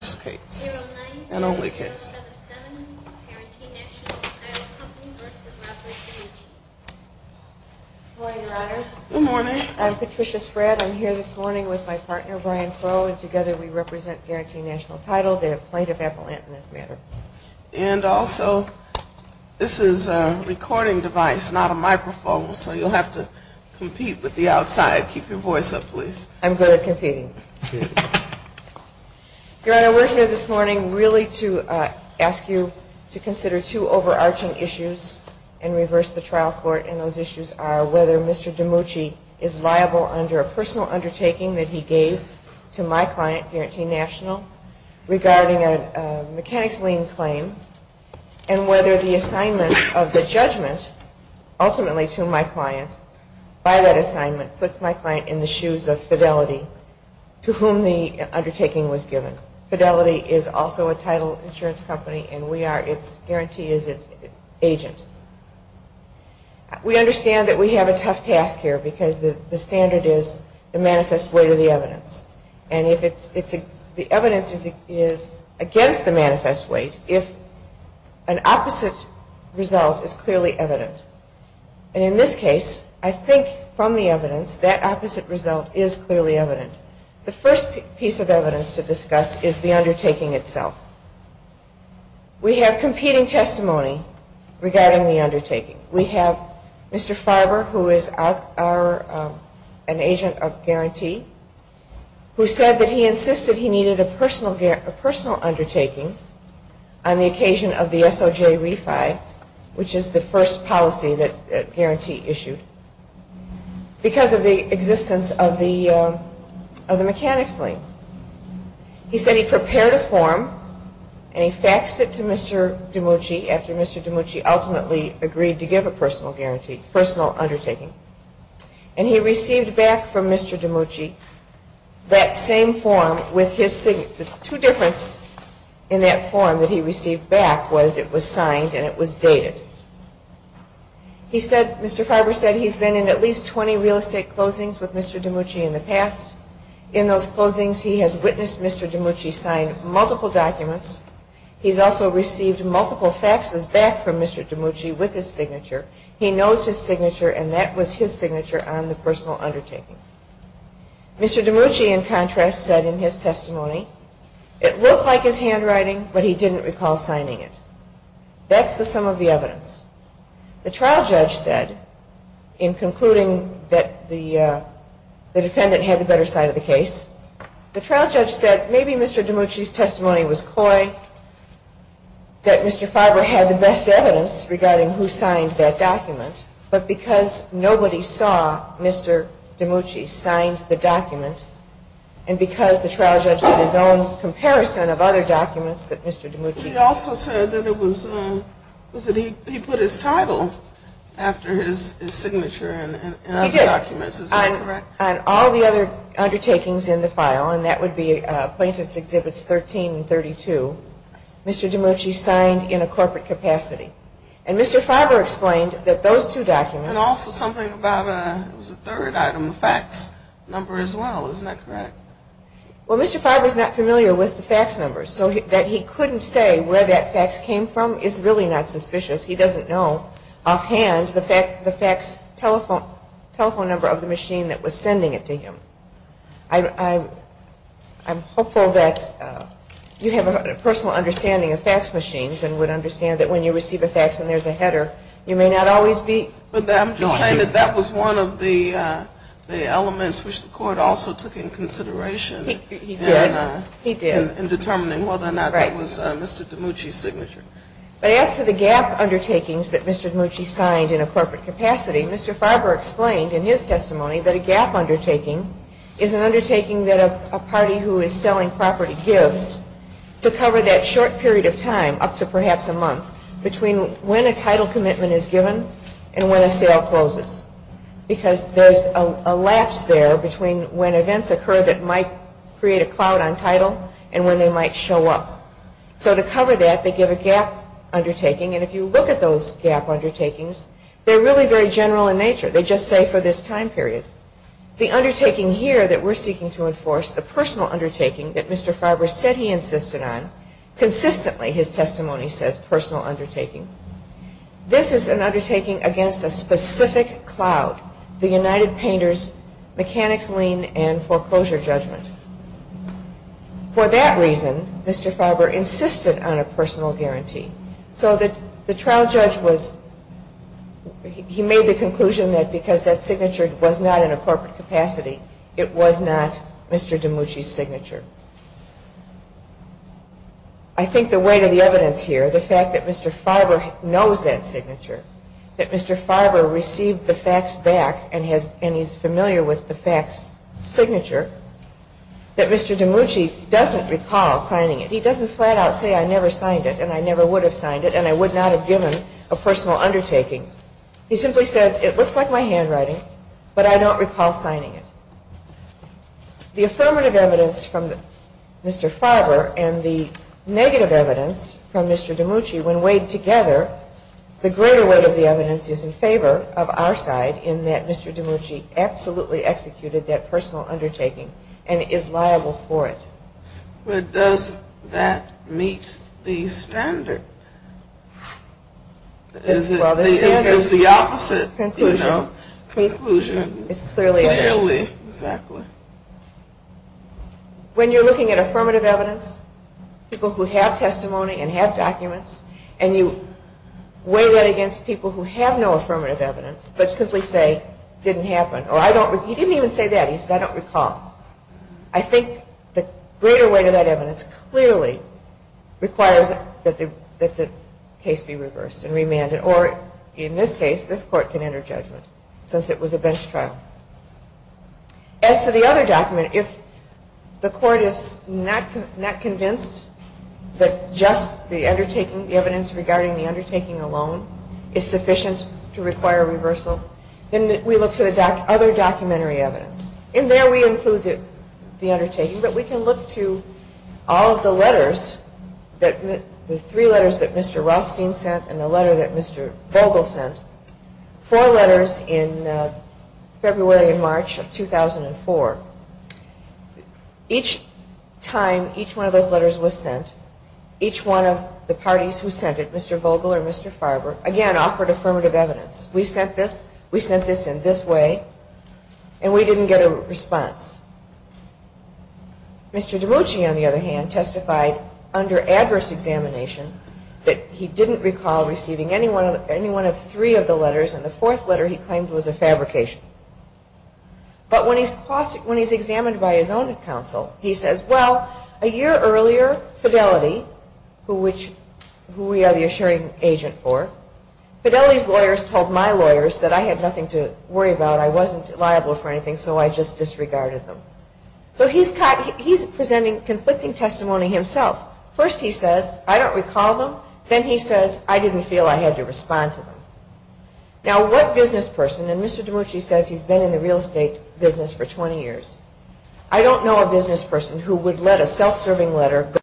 Good morning, Your Honors. I'm Patricia Spratt. I'm here this morning with my partner, Brian Crowe, and together we represent Guaranty Nat'l Title, the plaintiff appellant in this matter. And also, this is a recording device, not a microphone, so you'll have to compete with the outside. Keep your voice up, please. I'm good at competing. Your Honor, we're here this morning really to ask you to consider two overarching issues and reverse the trial court. And those issues are whether Mr. Dimucci is liable under a personal undertaking that he gave to my client, Guaranty Nat'l, regarding a mechanics lien claim and whether the assignment of the judgment, ultimately to my client, by that assignment puts my client in the shoes of Fidelity, to whom the undertaking was given. Fidelity is also a title insurance company and we are its, Guaranty is its agent. We understand that we have a tough task here because the standard is the manifest weight of the evidence. And if the evidence is against the manifest weight, if an opposite result is clearly evident. And in this case, I think from the evidence, that opposite result is clearly evident. The first piece of evidence to discuss is the undertaking itself. We have competing testimony regarding the undertaking. We have Mr. Farber, who is an agent of Guaranty, who said that he insisted he needed a personal undertaking on the occasion of the SOJ refi, which is the first policy that Guaranty issued, because of the existence of the mechanics lien. He said he prepared a form and he faxed it to Mr. Dimucci after Mr. Dimucci ultimately agreed to give a personal guarantee, personal undertaking. And he received back from Mr. Dimucci that same form with his signature. The two difference in that form that he received back was it was signed and it was dated. Mr. Farber said he's been in at least 20 real estate closings with Mr. Dimucci in the past. In those closings, he has witnessed Mr. Dimucci sign multiple documents. He's also received multiple faxes back from Mr. Dimucci with his signature. He knows his signature and that was his signature on the personal undertaking. Mr. Dimucci, in contrast, said in his testimony, it looked like his handwriting, but he didn't recall signing it. That's the sum of the evidence. The trial judge said, in concluding that the defendant had the better side of the case, the trial judge said maybe Mr. Dimucci's testimony was coy, that Mr. Farber had the best evidence regarding who signed that document, but because nobody saw Mr. Dimucci signed the document, and because the trial judge had his own comparison of other documents that Mr. Dimucci. He also said that he put his title after his signature in other documents, is that correct? He did. On all the other undertakings in the file, and that would be Plaintiff's Exhibits 13 and 32, Mr. Dimucci signed in a corporate capacity. And Mr. Farber explained that those two documents. And also something about a third item, a fax number as well, is that correct? Well, Mr. Farber is not familiar with the fax numbers, so that he couldn't say where that fax came from is really not suspicious. He doesn't know offhand the fax telephone number of the machine that was sending it to him. I'm hopeful that you have a personal understanding of fax machines and would understand that when you receive a fax and there's a header, you may not always be knowing. I'm just saying that that was one of the elements which the court also took into consideration. He did. He did. In determining whether or not that was Mr. Dimucci's signature. But as to the GAP undertakings that Mr. Dimucci signed in a corporate capacity, Mr. Farber explained in his testimony that a GAP undertaking is an undertaking that a party who is selling property gives to cover that short period of time, up to perhaps a month, between when a title commitment is given and when a sale closes. Because there's a lapse there between when events occur that might create a cloud on title and when they might show up. So to cover that, they give a GAP undertaking. And if you look at those GAP undertakings, they're really very general in nature. They just say for this time period. The undertaking here that we're seeking to enforce, the personal undertaking that Mr. Farber said he insisted on, consistently his testimony says personal undertaking. This is an undertaking against a specific cloud. The United Painters Mechanics Lien and Foreclosure Judgment. For that reason, Mr. Farber insisted on a personal guarantee. So that the trial judge was, he made the conclusion that because that signature was not in a corporate capacity, it was not Mr. Dimucci's signature. I think the weight of the evidence here, the fact that Mr. Farber knows that signature, that Mr. Farber received the facts back and he's familiar with the facts signature, that Mr. Dimucci doesn't recall signing it. He doesn't flat out say I never signed it and I never would have signed it and I would not have given a personal undertaking. He simply says it looks like my handwriting, but I don't recall signing it. The affirmative evidence from Mr. Farber and the negative evidence from Mr. Dimucci, when weighed together, the greater weight of the evidence is in favor of our side in that Mr. Dimucci absolutely executed that personal undertaking and is liable for it. But does that meet the standard? Well, the standard is the opposite, you know. Conclusion, clearly, exactly. When you're looking at affirmative evidence, people who have testimony and have documents, and you weigh that against people who have no affirmative evidence, but simply say, didn't happen, or I don't, he didn't even say that, he says I don't recall. I think the greater weight of that evidence clearly requires that the case be reversed and remanded, or in this case, this court can enter judgment since it was a bench trial. As to the other document, if the court is not convinced that just the evidence regarding the undertaking alone is sufficient to require reversal, then we look to the other documentary evidence. In there we include the undertaking, but we can look to all of the letters, the three letters that Mr. Rothstein sent and the letter that Mr. Vogel sent, four letters in February and March of 2004. Each time each one of those letters was sent, each one of the parties who sent it, Mr. Vogel or Mr. Farber, again offered affirmative evidence. We sent this, we sent this in this way, and we didn't get a response. Mr. Dimucci, on under adverse examination, that he didn't recall receiving any one of three of the letters and the fourth letter he claimed was a fabrication. But when he's examined by his own counsel, he says, well, a year earlier, Fidelity, who we are the assuring agent for, Fidelity's lawyers told my lawyers that I had nothing to worry about, I wasn't liable for anything, so I just disregarded them. So he's presenting conflicting testimony himself. First he says, I don't recall them, then he says, I didn't feel I had to respond to them. Now what business person, and Mr. Dimucci says he's been in the real estate business for 20 years, I don't know a business person who would let a self-serving letter go to the wrong person.